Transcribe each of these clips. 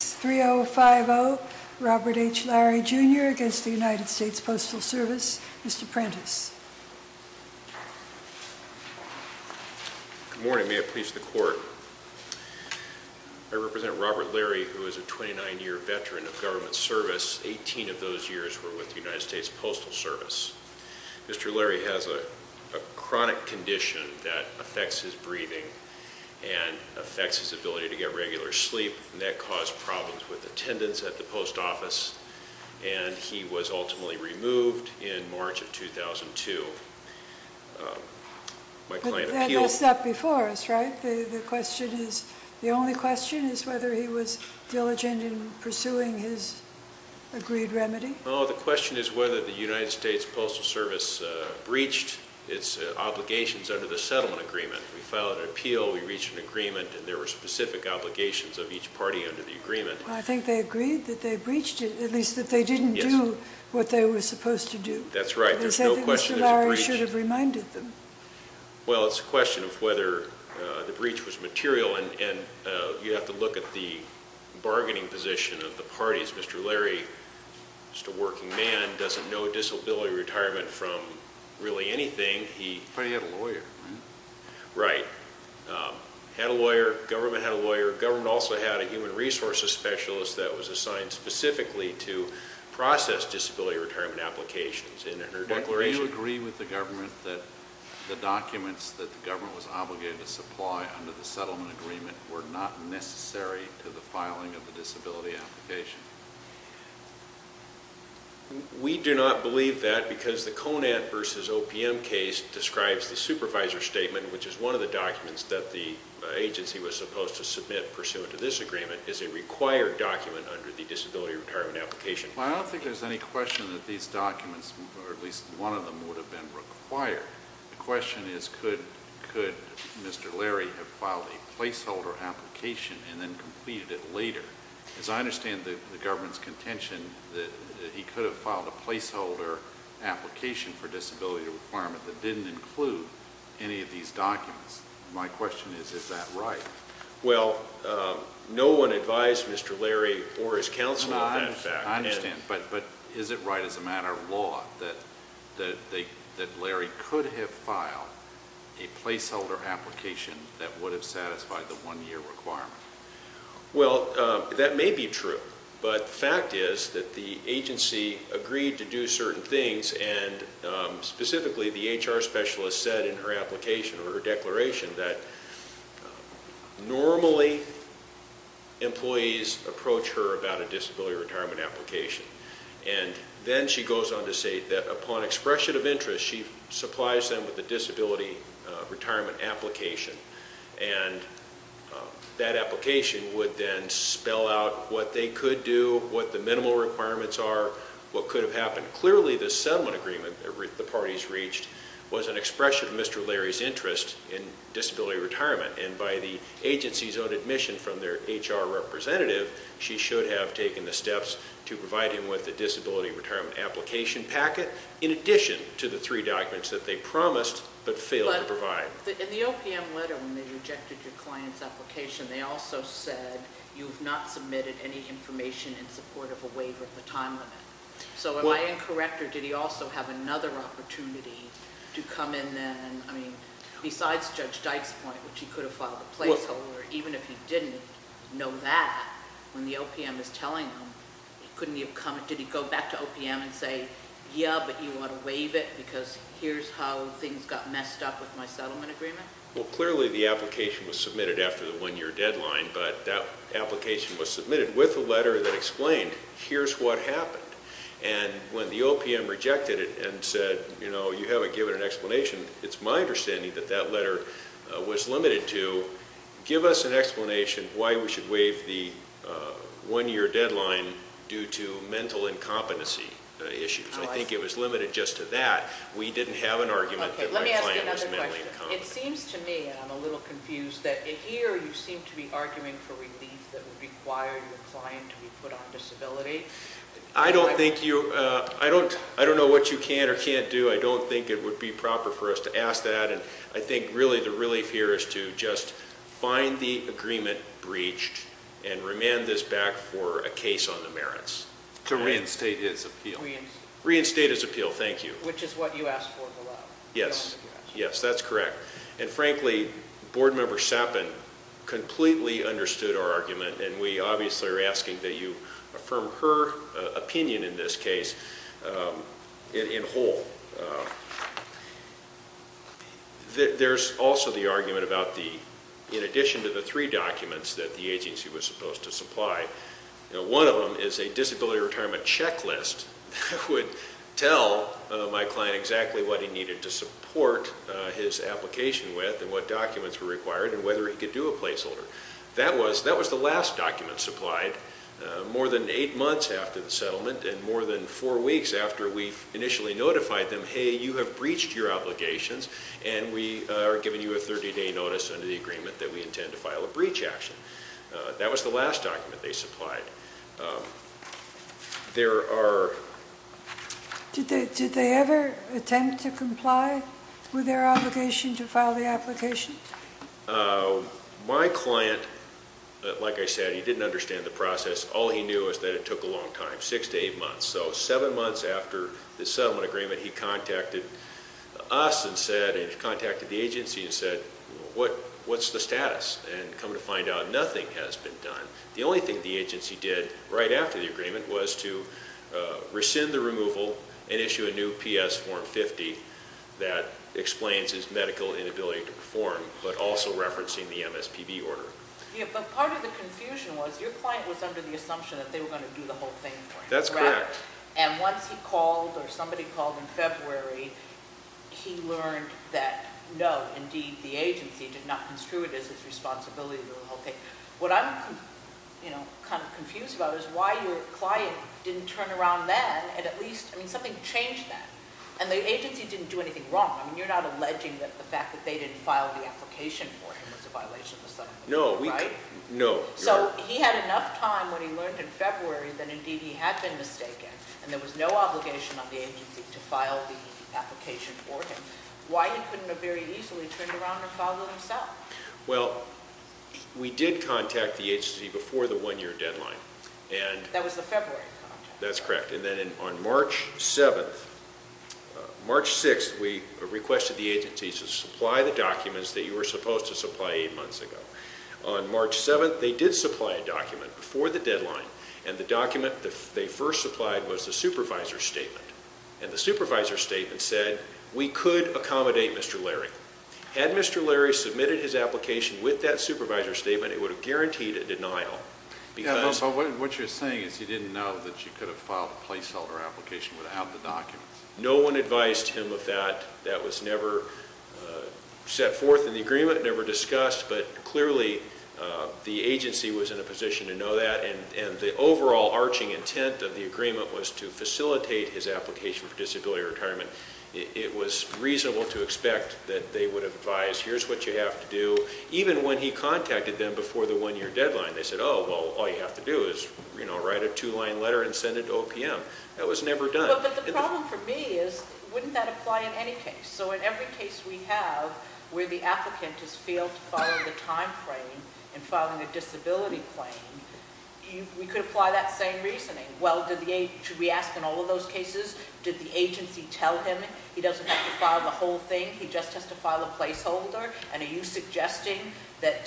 3-0-5-0 Robert H. Lary Jr. against the United States Postal Service. Mr. Prentiss. Good morning. May I please the court? I represent Robert Lary who is a 29-year veteran of government service. 18 of those years were with the United States Postal Service. Mr. Lary has a chronic condition that affects his breathing and affects his ability to get regular sleep and that caused problems with attendance at the post office. And he was ultimately removed in March of 2002. That was before us, right? The only question is whether he was diligent in pursuing his agreed remedy? The question is whether the United States Postal Service breached its obligations under the settlement agreement. We filed an appeal, we reached an agreement, and there were specific obligations of each party under the agreement. I think they agreed that they breached it, at least that they didn't do what they were supposed to do. That's right. There's no question there's a breach. I think Mr. Lary should have reminded them. Well, it's a question of whether the breach was material and you have to look at the bargaining position of the parties. Mr. Lary, just a working man, doesn't know disability retirement from really anything. But he had a lawyer, right? Right. Had a lawyer, government had a lawyer, government also had a human resources specialist that was assigned specifically to process disability retirement applications. Do you agree with the government that the documents that the government was obligated to supply under the settlement agreement were not necessary to the filing of the disability application? We do not believe that because the CONAT versus OPM case describes the supervisor statement, which is one of the documents that the agency was supposed to submit pursuant to this agreement, is a required document under the disability retirement application. Well, I don't think there's any question that these documents, or at least one of them, would have been required. The question is could Mr. Lary have filed a placeholder application and then completed it later? As I understand the government's contention that he could have filed a placeholder application for disability retirement that didn't include any of these documents. My question is, is that right? Well, no one advised Mr. Lary or his counsel on that fact. I understand, but is it right as a matter of law that Lary could have filed a placeholder application that would have satisfied the one-year requirement? Well, that may be true, but the fact is that the agency agreed to do certain things, and specifically the HR specialist said in her application or her declaration that normally employees approach her about a disability retirement application. And then she goes on to say that upon expression of interest, she supplies them with a disability retirement application. And that application would then spell out what they could do, what the minimal requirements are, what could have happened. Clearly, the settlement agreement that the parties reached was an expression of Mr. Lary's interest in disability retirement. And by the agency's own admission from their HR representative, she should have taken the steps to provide him with a disability retirement application packet in addition to the three documents that they promised but failed to provide. But in the OPM letter when they rejected your client's application, they also said you have not submitted any information in support of a waiver of the time limit. So am I incorrect, or did he also have another opportunity to come in then? I mean, besides Judge Dykes' point, which he could have filed a placeholder, even if he didn't know that when the OPM was telling him, couldn't he have come and did he go back to OPM and say, yeah, but you want to waive it because here's how things got messed up with my settlement agreement? Well, clearly the application was submitted after the one-year deadline, but that application was submitted with a letter that explained here's what happened. And when the OPM rejected it and said, you know, you haven't given an explanation, it's my understanding that that letter was limited to give us an explanation why we should waive the one-year deadline due to mental incompetency issues. I think it was limited just to that. We didn't have an argument that my client was mentally incompetent. It seems to me, and I'm a little confused, that here you seem to be arguing for relief that would require your client to be put on disability. I don't know what you can or can't do. I don't think it would be proper for us to ask that, and I think really the relief here is to just find the agreement breached and remand this back for a case on the merits. To reinstate his appeal. Reinstate his appeal, thank you. Which is what you asked for below. Yes, yes, that's correct. And frankly, Board Member Sappen completely understood our argument, and we obviously are asking that you affirm her opinion in this case in whole. There's also the argument about the, in addition to the three documents that the agency was supposed to supply, one of them is a disability retirement checklist that would tell my client exactly what he needed to support his application with and what documents were required and whether he could do a placeholder. That was the last document supplied more than eight months after the settlement and more than four weeks after we initially notified them, hey, you have breached your obligations and we are giving you a 30-day notice under the agreement that we intend to file a breach action. That was the last document they supplied. There are... Did they ever attempt to comply with their obligation to file the application? My client, like I said, he didn't understand the process. All he knew was that it took a long time, six to eight months. So seven months after the settlement agreement, he contacted us and contacted the agency and said, what's the status? And come to find out nothing has been done. The only thing the agency did right after the agreement was to rescind the removal and issue a new PS form 50 that explains his medical inability to perform but also referencing the MSPB order. Yeah, but part of the confusion was your client was under the assumption that they were going to do the whole thing for him. That's correct. And once he called or somebody called in February, he learned that no, indeed, the agency did not construe it as his responsibility. What I'm kind of confused about is why your client didn't turn around then and at least something changed that. And the agency didn't do anything wrong. You're not alleging that the fact that they didn't file the application for him was a violation of the settlement agreement, right? No. So he had enough time when he learned in February that indeed he had been mistaken and there was no obligation on the agency to file the application for him. Why he couldn't have very easily turned around and filed it himself? Well, we did contact the agency before the one-year deadline. That was the February contact. That's correct. And then on March 7th, March 6th, we requested the agency to supply the documents that you were supposed to supply eight months ago. On March 7th, they did supply a document before the deadline, and the document they first supplied was the supervisor's statement. And the supervisor's statement said, we could accommodate Mr. Larry. Had Mr. Larry submitted his application with that supervisor's statement, it would have guaranteed a denial. Yeah, but what you're saying is he didn't know that you could have filed a placeholder application without the documents. No one advised him of that. That was never set forth in the agreement, never discussed, but clearly the agency was in a position to know that, and the overall arching intent of the agreement was to facilitate his application for disability retirement. It was reasonable to expect that they would advise, here's what you have to do, even when he contacted them before the one-year deadline. They said, oh, well, all you have to do is write a two-line letter and send it to OPM. That was never done. But the problem for me is, wouldn't that apply in any case? So in every case we have where the applicant has failed to follow the timeframe in filing a disability claim, we could apply that same reasoning. Well, should we ask in all of those cases, did the agency tell him he doesn't have to file the whole thing, he just has to file a placeholder? And are you suggesting that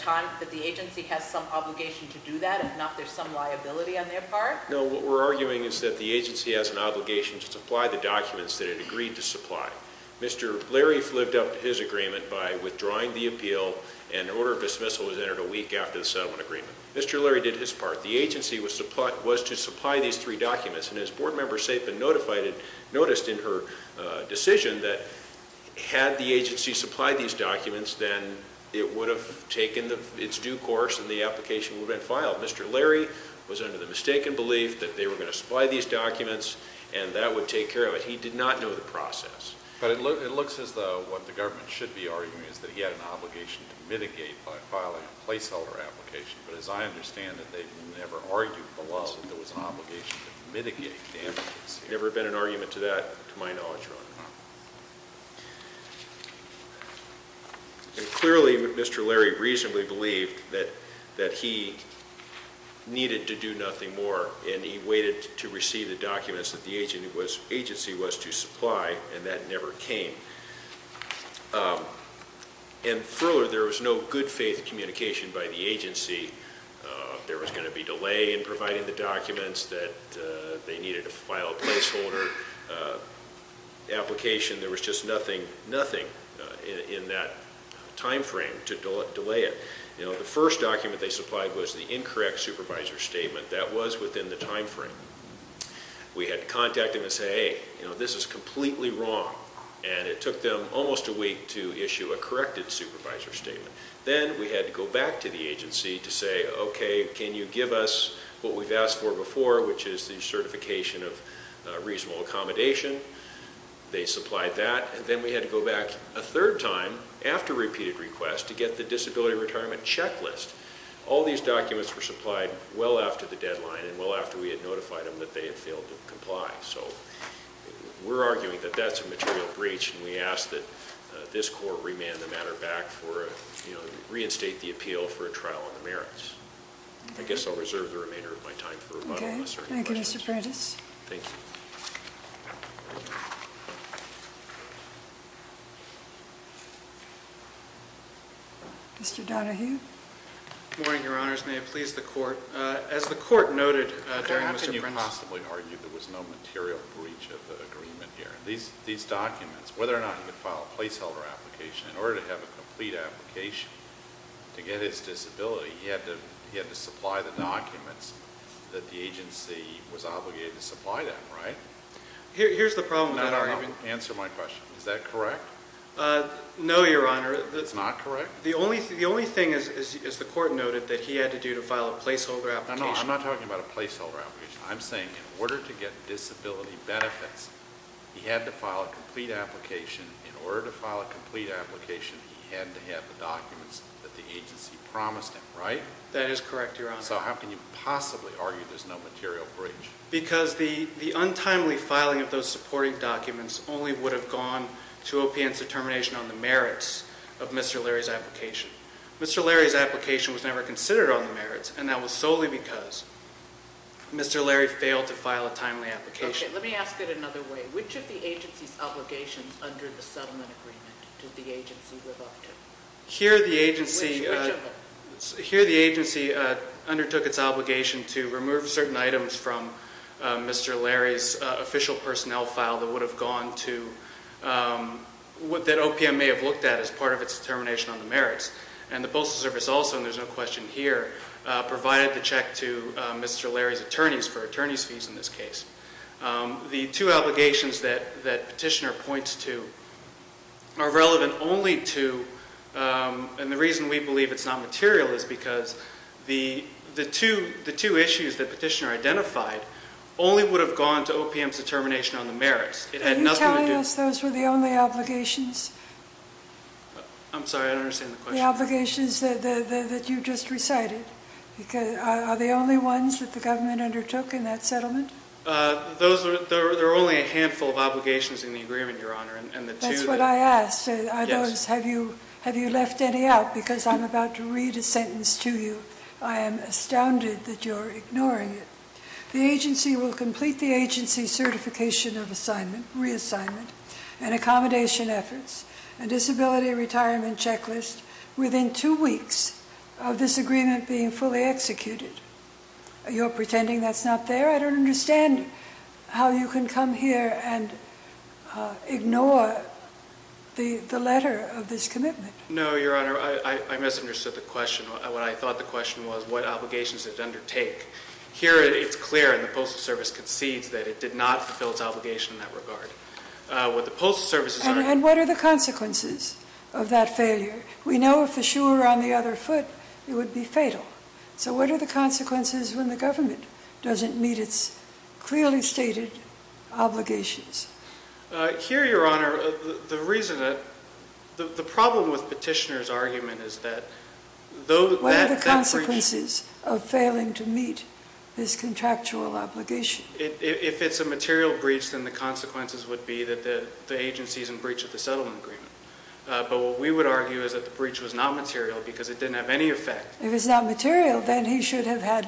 the agency has some obligation to do that if not there's some liability on their part? No, what we're arguing is that the agency has an obligation to supply the documents that it agreed to supply. Mr. Leary lived up to his agreement by withdrawing the appeal, and an order of dismissal was entered a week after the settlement agreement. Mr. Leary did his part. The agency was to supply these three documents, and as Board Member Saipan noticed in her decision, that had the agency supplied these documents, then it would have taken its due course and the application would have been filed. Mr. Leary was under the mistaken belief that they were going to supply these documents and that would take care of it. He did not know the process. But it looks as though what the government should be arguing is that he had an obligation to mitigate by filing a placeholder application. But as I understand it, they never argued below that there was an obligation to mitigate. There's never been an argument to that to my knowledge, Your Honor. Clearly, Mr. Leary reasonably believed that he needed to do nothing more, and he waited to receive the documents that the agency was to supply, and that never came. And further, there was no good faith communication by the agency. There was going to be delay in providing the documents that they needed to file a placeholder application. There was just nothing in that time frame to delay it. The first document they supplied was the incorrect supervisor statement. That was within the time frame. We had to contact them and say, hey, this is completely wrong, and it took them almost a week to issue a corrected supervisor statement. Then we had to go back to the agency to say, okay, can you give us what we've asked for before, which is the certification of reasonable accommodation? They supplied that. Then we had to go back a third time after repeated requests to get the disability retirement checklist. All these documents were supplied well after the deadline So we're arguing that that's a material breach, and we ask that this court remand the matter back and reinstate the appeal for a trial on the merits. I guess I'll reserve the remainder of my time for rebuttal. Thank you, Mr. Prentiss. Thank you. Mr. Donahue. Good morning, Your Honors. May it please the Court. As the Court noted during Mr. Prentiss' How can you possibly argue there was no material breach of the agreement here? These documents, whether or not he could file a placeholder application, in order to have a complete application to get his disability, he had to supply the documents that the agency was obligated to supply them, right? Here's the problem, Your Honor. Answer my question. Is that correct? No, Your Honor. It's not correct? The only thing, as the Court noted, that he had to do to file a placeholder application I'm not talking about a placeholder application. I'm saying in order to get disability benefits, he had to file a complete application. In order to file a complete application, he had to have the documents that the agency promised him, right? That is correct, Your Honor. So how can you possibly argue there's no material breach? Because the untimely filing of those supporting documents only would have gone to O.P.N.'s determination on the merits of Mr. Larry's application. Mr. Larry's application was never considered on the merits, and that was solely because Mr. Larry failed to file a timely application. Let me ask it another way. Which of the agency's obligations under the settlement agreement did the agency live up to? Here the agency undertook its obligation to remove certain items from Mr. Larry's official personnel file that would have gone to what O.P.N. may have looked at as part of its determination on the merits. And the Postal Service also, and there's no question here, provided the check to Mr. Larry's attorneys for attorney's fees in this case. The two obligations that Petitioner points to are relevant only to, and the reason we believe it's not material is because the two issues that Petitioner identified only would have gone to O.P.N.'s determination on the merits. Are you telling us those were the only obligations? I'm sorry, I don't understand the question. The obligations that you just recited. Are the only ones that the government undertook in that settlement? There were only a handful of obligations in the agreement, Your Honor. That's what I asked. Are those, have you left any out? Because I'm about to read a sentence to you. I am astounded that you're ignoring it. The agency will complete the agency's certification of reassignment and accommodation efforts and disability retirement checklist within two weeks of this agreement being fully executed. You're pretending that's not there? I don't understand how you can come here and ignore the letter of this commitment. No, Your Honor, I misunderstood the question. What I thought the question was, what obligations did it undertake? Here it's clear, and the Postal Service concedes, that it did not fulfill its obligation in that regard. And what are the consequences of that failure? We know if the shoe were on the other foot, it would be fatal. So what are the consequences when the government doesn't meet its clearly stated obligations? Here, Your Honor, the reason that, the problem with Petitioner's argument is that, What are the consequences of failing to meet this contractual obligation? If it's a material breach, then the consequences would be that the agency's in breach of the settlement agreement. But what we would argue is that the breach was not material because it didn't have any effect. If it's not material, then he should have had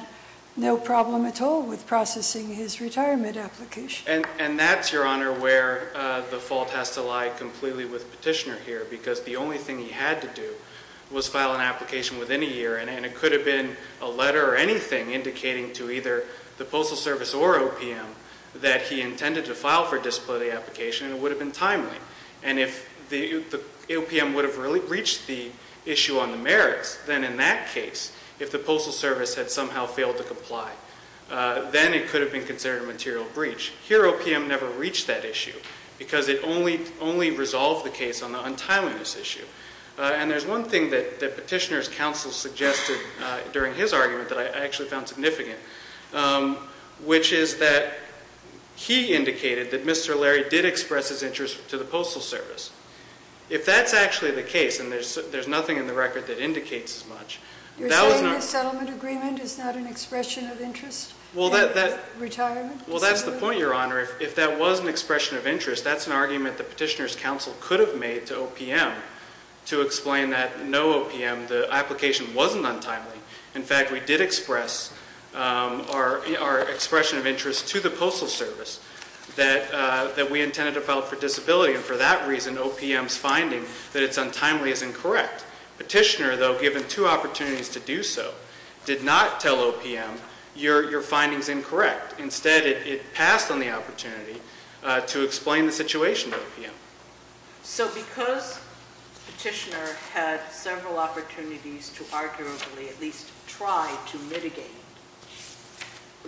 no problem at all with processing his retirement application. And that's, Your Honor, where the fault has to lie completely with Petitioner here. Because the only thing he had to do was file an application within a year. And it could have been a letter or anything indicating to either the Postal Service or OPM, that he intended to file for disciplinary application, and it would have been timely. And if the OPM would have really breached the issue on the merits, then in that case, if the Postal Service had somehow failed to comply, then it could have been considered a material breach. Here, OPM never reached that issue because it only resolved the case on the untimeliness issue. And there's one thing that Petitioner's counsel suggested during his argument that I actually found significant, which is that he indicated that Mr. Larry did express his interest to the Postal Service. If that's actually the case, and there's nothing in the record that indicates as much, You're saying the settlement agreement is not an expression of interest? Well, that's the point, Your Honor. If that was an expression of interest, that's an argument that Petitioner's counsel could have made to OPM to explain that no, OPM, the application wasn't untimely. In fact, we did express our expression of interest to the Postal Service that we intended to file for disability. And for that reason, OPM's finding that it's untimely is incorrect. Petitioner, though given two opportunities to do so, did not tell OPM your finding's incorrect. Instead, it passed on the opportunity to explain the situation to OPM. So because Petitioner had several opportunities to arguably at least try to mitigate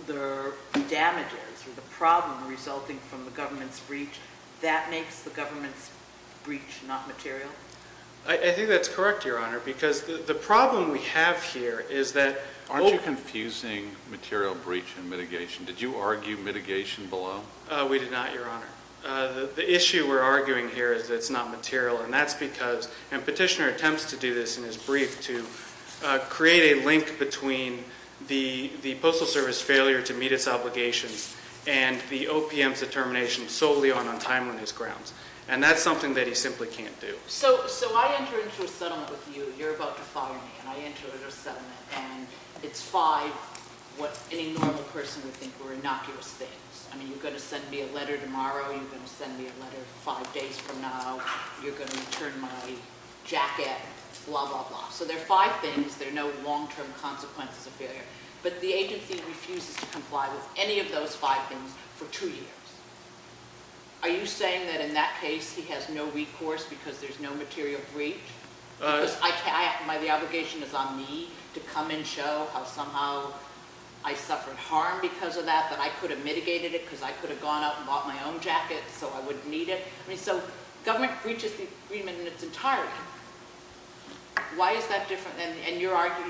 the damages or the problem resulting from the government's breach, that makes the government's breach not material? I think that's correct, Your Honor, because the problem we have here is that Aren't you confusing material breach and mitigation? Did you argue mitigation below? We did not, Your Honor. The issue we're arguing here is that it's not material, and that's because Petitioner attempts to do this in his brief to create a link between the Postal Service failure to meet its obligations and the OPM's determination solely on untimeliness grounds. And that's something that he simply can't do. So I enter into a settlement with you. You're about to fire me. And I enter into a settlement, and it's five what any normal person would think were innocuous things. I mean, you're going to send me a letter tomorrow. You're going to send me a letter five days from now. You're going to return my jacket, blah, blah, blah. So there are five things. There are no long-term consequences of failure. But the agency refuses to comply with any of those five things for two years. Are you saying that in that case he has no recourse because there's no material breach? Because the obligation is on me to come and show how somehow I suffered harm because of that, that I could have mitigated it because I could have gone out and bought my own jacket so I wouldn't need it? I mean, so government breaches the agreement in its entirety. Why is that different? And you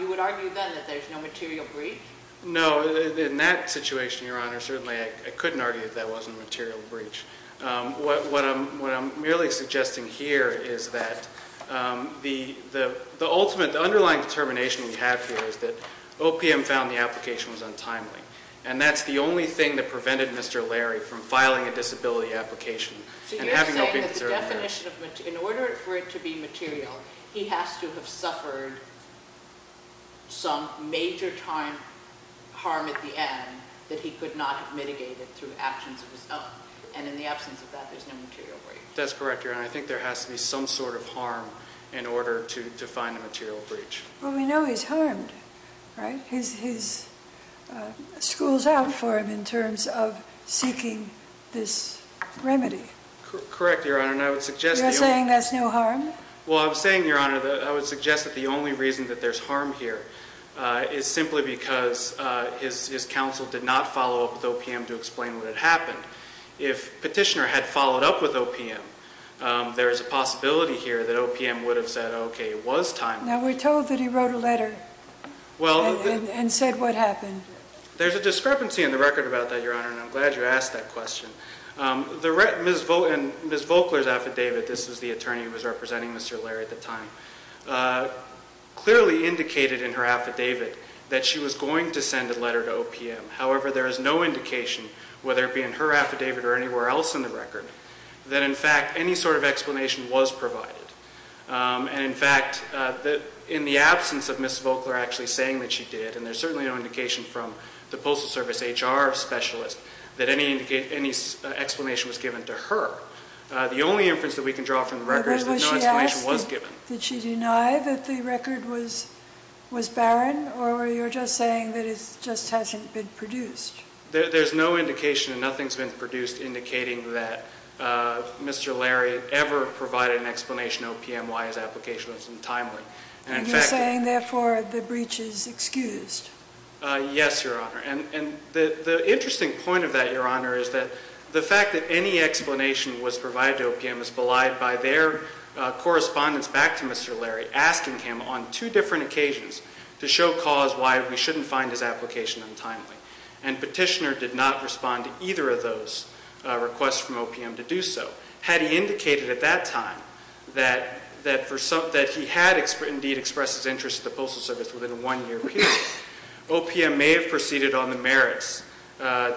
would argue then that there's no material breach? No, in that situation, Your Honor, certainly I couldn't argue that that wasn't a material breach. What I'm merely suggesting here is that the ultimate underlying determination we have here is that OPM found the application was untimely. And that's the only thing that prevented Mr. Larry from filing a disability application. So you're saying that the definition of material, in order for it to be material, he has to have suffered some major time harm at the end that he could not have mitigated through actions of his own. And in the absence of that, there's no material breach. That's correct, Your Honor. I think there has to be some sort of harm in order to define a material breach. Well, we know he's harmed, right? His school's out for him in terms of seeking this remedy. Correct, Your Honor, and I would suggest that the only reason that there's harm here is simply because his counsel did not follow up with OPM to explain what had happened. If Petitioner had followed up with OPM, there is a possibility here that OPM would have said, okay, it was timely. Now, we're told that he wrote a letter and said what happened. There's a discrepancy in the record about that, Your Honor, and I'm glad you asked that question. Ms. Volkler's affidavit, this is the attorney who was representing Mr. Larry at the time, clearly indicated in her affidavit that she was going to send a letter to OPM. However, there is no indication, whether it be in her affidavit or anywhere else in the record, that in fact any sort of explanation was provided. And, in fact, in the absence of Ms. Volkler actually saying that she did, and there's certainly no indication from the Postal Service HR specialist that any explanation was given to her, the only inference that we can draw from the record is that no explanation was given. Did she deny that the record was barren, or were you just saying that it just hasn't been produced? There's no indication and nothing's been produced indicating that Mr. Larry ever provided an explanation to OPM why his application was untimely. And you're saying, therefore, the breach is excused? Yes, Your Honor. And the interesting point of that, Your Honor, is that the fact that any explanation was provided to OPM is belied by their correspondence back to Mr. Larry asking him on two different occasions to show cause why we shouldn't find his application untimely. And Petitioner did not respond to either of those requests from OPM to do so. Had he indicated at that time that he had indeed expressed his interest to the Postal Service within a one-year period, OPM may have proceeded on the merits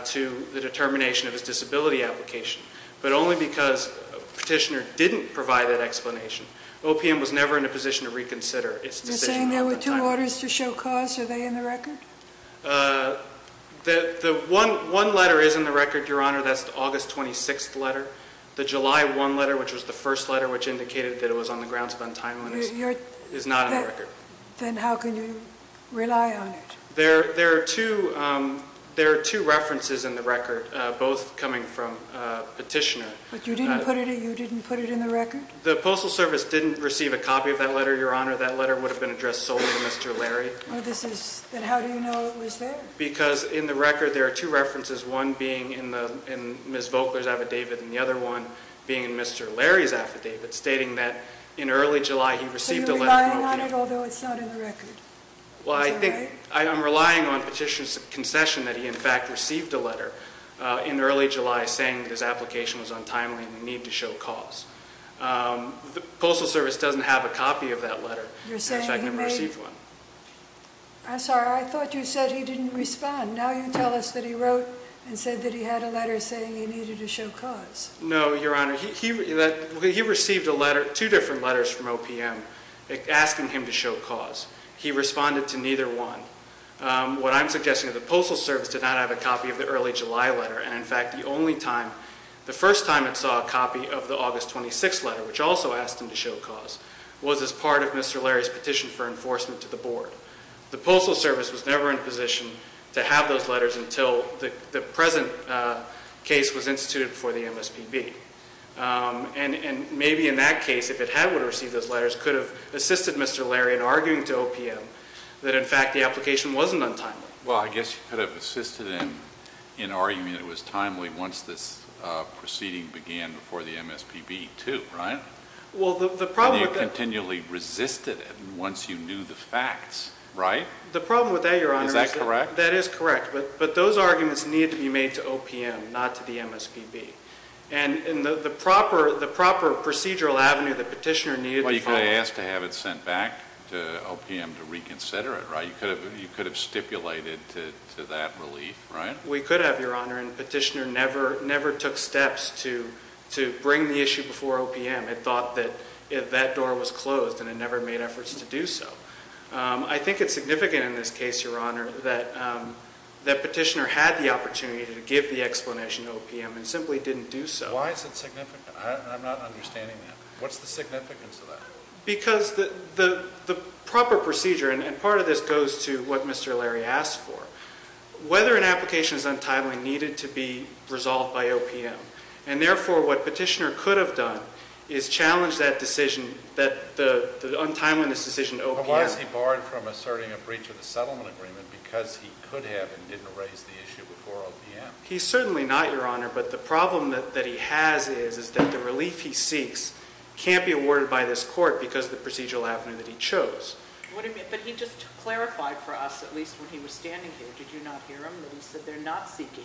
to the determination of his disability application, but only because Petitioner didn't provide that explanation. OPM was never in a position to reconsider its decision at the time. Do you have orders to show cause? Are they in the record? One letter is in the record, Your Honor. That's the August 26th letter. The July 1 letter, which was the first letter which indicated that it was on the grounds of untimeliness, is not in the record. Then how can you rely on it? There are two references in the record, both coming from Petitioner. But you didn't put it in the record? The Postal Service didn't receive a copy of that letter, Your Honor. That letter would have been addressed solely to Mr. Larry. Then how do you know it was there? Because in the record there are two references, one being in Ms. Voeckler's affidavit and the other one being in Mr. Larry's affidavit, stating that in early July he received a letter from OPM. So you're relying on it, although it's not in the record? Well, I think I'm relying on Petitioner's concession that he in fact received a letter in early July saying that his application was untimely and we need to show cause. The Postal Service doesn't have a copy of that letter. In fact, I never received one. I'm sorry, I thought you said he didn't respond. Now you tell us that he wrote and said that he had a letter saying he needed to show cause. No, Your Honor, he received two different letters from OPM asking him to show cause. He responded to neither one. What I'm suggesting is the Postal Service did not have a copy of the early July letter. In fact, the first time it saw a copy of the August 26 letter, which also asked him to show cause, was as part of Mr. Larry's petition for enforcement to the Board. The Postal Service was never in a position to have those letters until the present case was instituted before the MSPB. And maybe in that case, if it had received those letters, it could have assisted Mr. Larry in arguing to OPM that in fact the application wasn't untimely. Well, I guess you could have assisted him in arguing it was timely once this proceeding began before the MSPB, too, right? Well, the problem with that... But you continually resisted it once you knew the facts, right? The problem with that, Your Honor... Is that correct? That is correct. But those arguments needed to be made to OPM, not to the MSPB. And the proper procedural avenue the petitioner needed to follow... Well, you could have asked to have it sent back to OPM to reconsider it, right? You could have stipulated to that relief, right? We could have, Your Honor. And the petitioner never took steps to bring the issue before OPM. It thought that that door was closed and it never made efforts to do so. I think it's significant in this case, Your Honor, that the petitioner had the opportunity to give the explanation to OPM and simply didn't do so. Why is it significant? I'm not understanding that. What's the significance of that? Because the proper procedure, and part of this goes to what Mr. Larry asked for, whether an application is untimely needed to be resolved by OPM. And, therefore, what petitioner could have done is challenged that decision, the untimeliness decision to OPM. But why is he barred from asserting a breach of the settlement agreement? Because he could have and didn't raise the issue before OPM. He's certainly not, Your Honor. But the problem that he has is that the relief he seeks can't be awarded by this court because of the procedural avenue that he chose. But he just clarified for us, at least when he was standing here, did you not hear him? That he said they're not seeking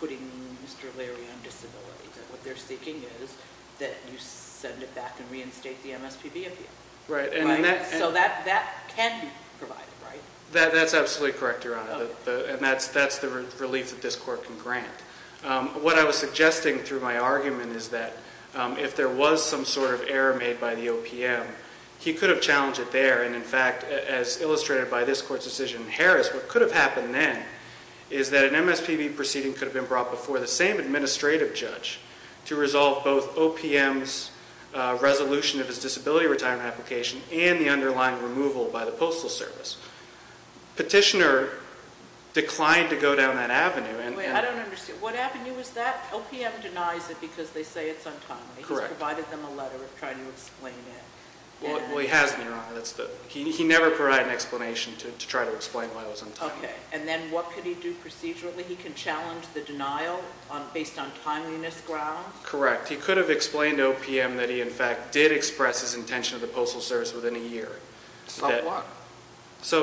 putting Mr. Larry on disability. That what they're seeking is that you send it back and reinstate the MSPB appeal. Right. So that can be provided, right? That's absolutely correct, Your Honor. And that's the relief that this court can grant. What I was suggesting through my argument is that if there was some sort of error made by the OPM, he could have challenged it there. And, in fact, as illustrated by this court's decision in Harris, what could have happened then is that an MSPB proceeding could have been brought before the same administrative judge to resolve both OPM's resolution of his disability retirement application and the underlying removal by the Postal Service. Petitioner declined to go down that avenue. Wait, I don't understand. What avenue is that? OPM denies it because they say it's untimely. Correct. He's provided them a letter trying to explain it. Well, he has, Your Honor. He never provided an explanation to try to explain why it was untimely. Okay. And then what could he do procedurally? He can challenge the denial based on timeliness grounds? Correct. He could have explained to OPM that he, in fact, did express his intention to the Postal Service within a year. About what?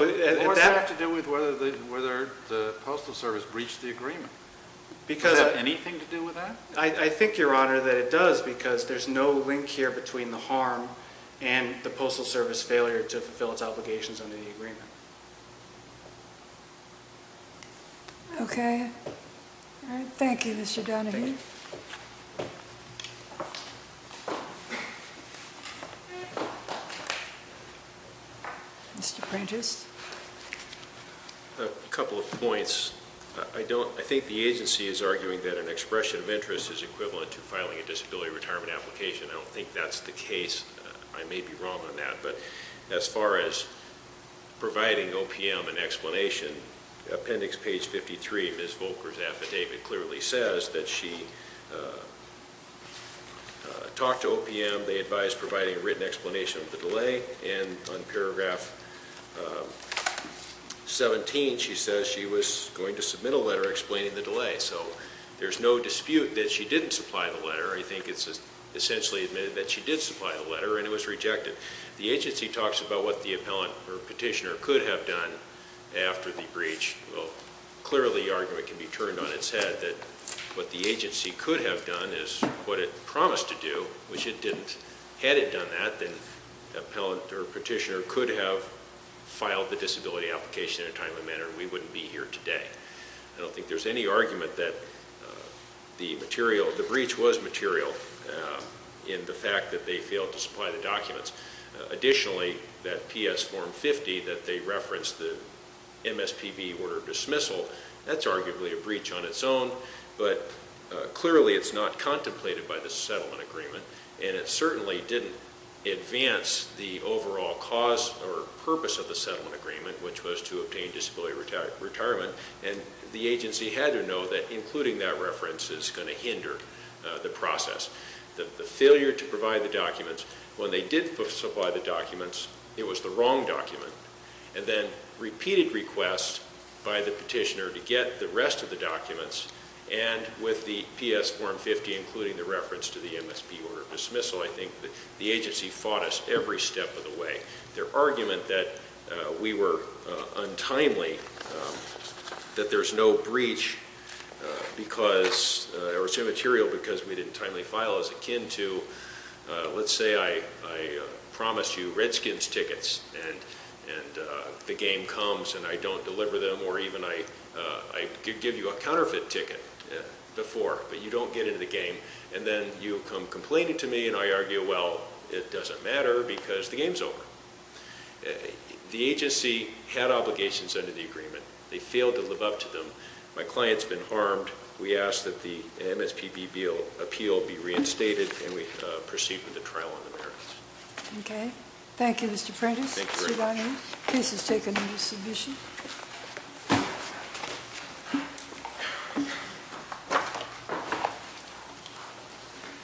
It has to do with whether the Postal Service breached the agreement. Does it have anything to do with that? I think, Your Honor, that it does because there's no link here between the harm and the Postal Service failure to fulfill its obligations under the agreement. Okay. Thank you, Mr. Donohue. Thank you. Mr. Prentice? A couple of points. I think the agency is arguing that an expression of interest is equivalent to filing a disability retirement application. I don't think that's the case. I may be wrong on that, but as far as providing OPM an explanation, Appendix Page 53, Ms. Volker's affidavit, clearly says that she, talked to OPM, they advised providing a written explanation of the delay, and on paragraph 17, she says she was going to submit a letter explaining the delay. So there's no dispute that she didn't supply the letter. I think it's essentially admitted that she did supply the letter, and it was rejected. The agency talks about what the appellant or petitioner could have done after the breach. Well, clearly the argument can be turned on its head that what the agency could have done is what it promised to do, which it didn't. Had it done that, then the appellant or petitioner could have filed the disability application in a timely manner, and we wouldn't be here today. I don't think there's any argument that the breach was material in the fact that they failed to supply the documents. Additionally, that PS form 50 that they referenced, the MSPB order of dismissal, that's arguably a breach on its own, but clearly it's not contemplated by the settlement agreement, and it certainly didn't advance the overall cause or purpose of the settlement agreement, which was to obtain disability retirement, and the agency had to know that including that reference is going to hinder the process. The failure to provide the documents, when they did supply the documents, it was the wrong document, and then repeated requests by the petitioner to get the rest of the documents, and with the PS form 50 including the reference to the MSPB order of dismissal, I think the agency fought us every step of the way. Their argument that we were untimely, that there's no breach because, or it was immaterial because we didn't timely file is akin to, let's say I promised you Redskins tickets and the game comes and I don't deliver them, or even I give you a counterfeit ticket before, but you don't get into the game, and then you come complaining to me and I argue, well, it doesn't matter because the game's over. The agency had obligations under the agreement. They failed to live up to them. My client's been harmed. We ask that the MSPB appeal be reinstated, and we proceed with the trial on the merits. Okay. Thank you, Mr. Prentice. Thank you very much. Case is taken into submission. Thank you.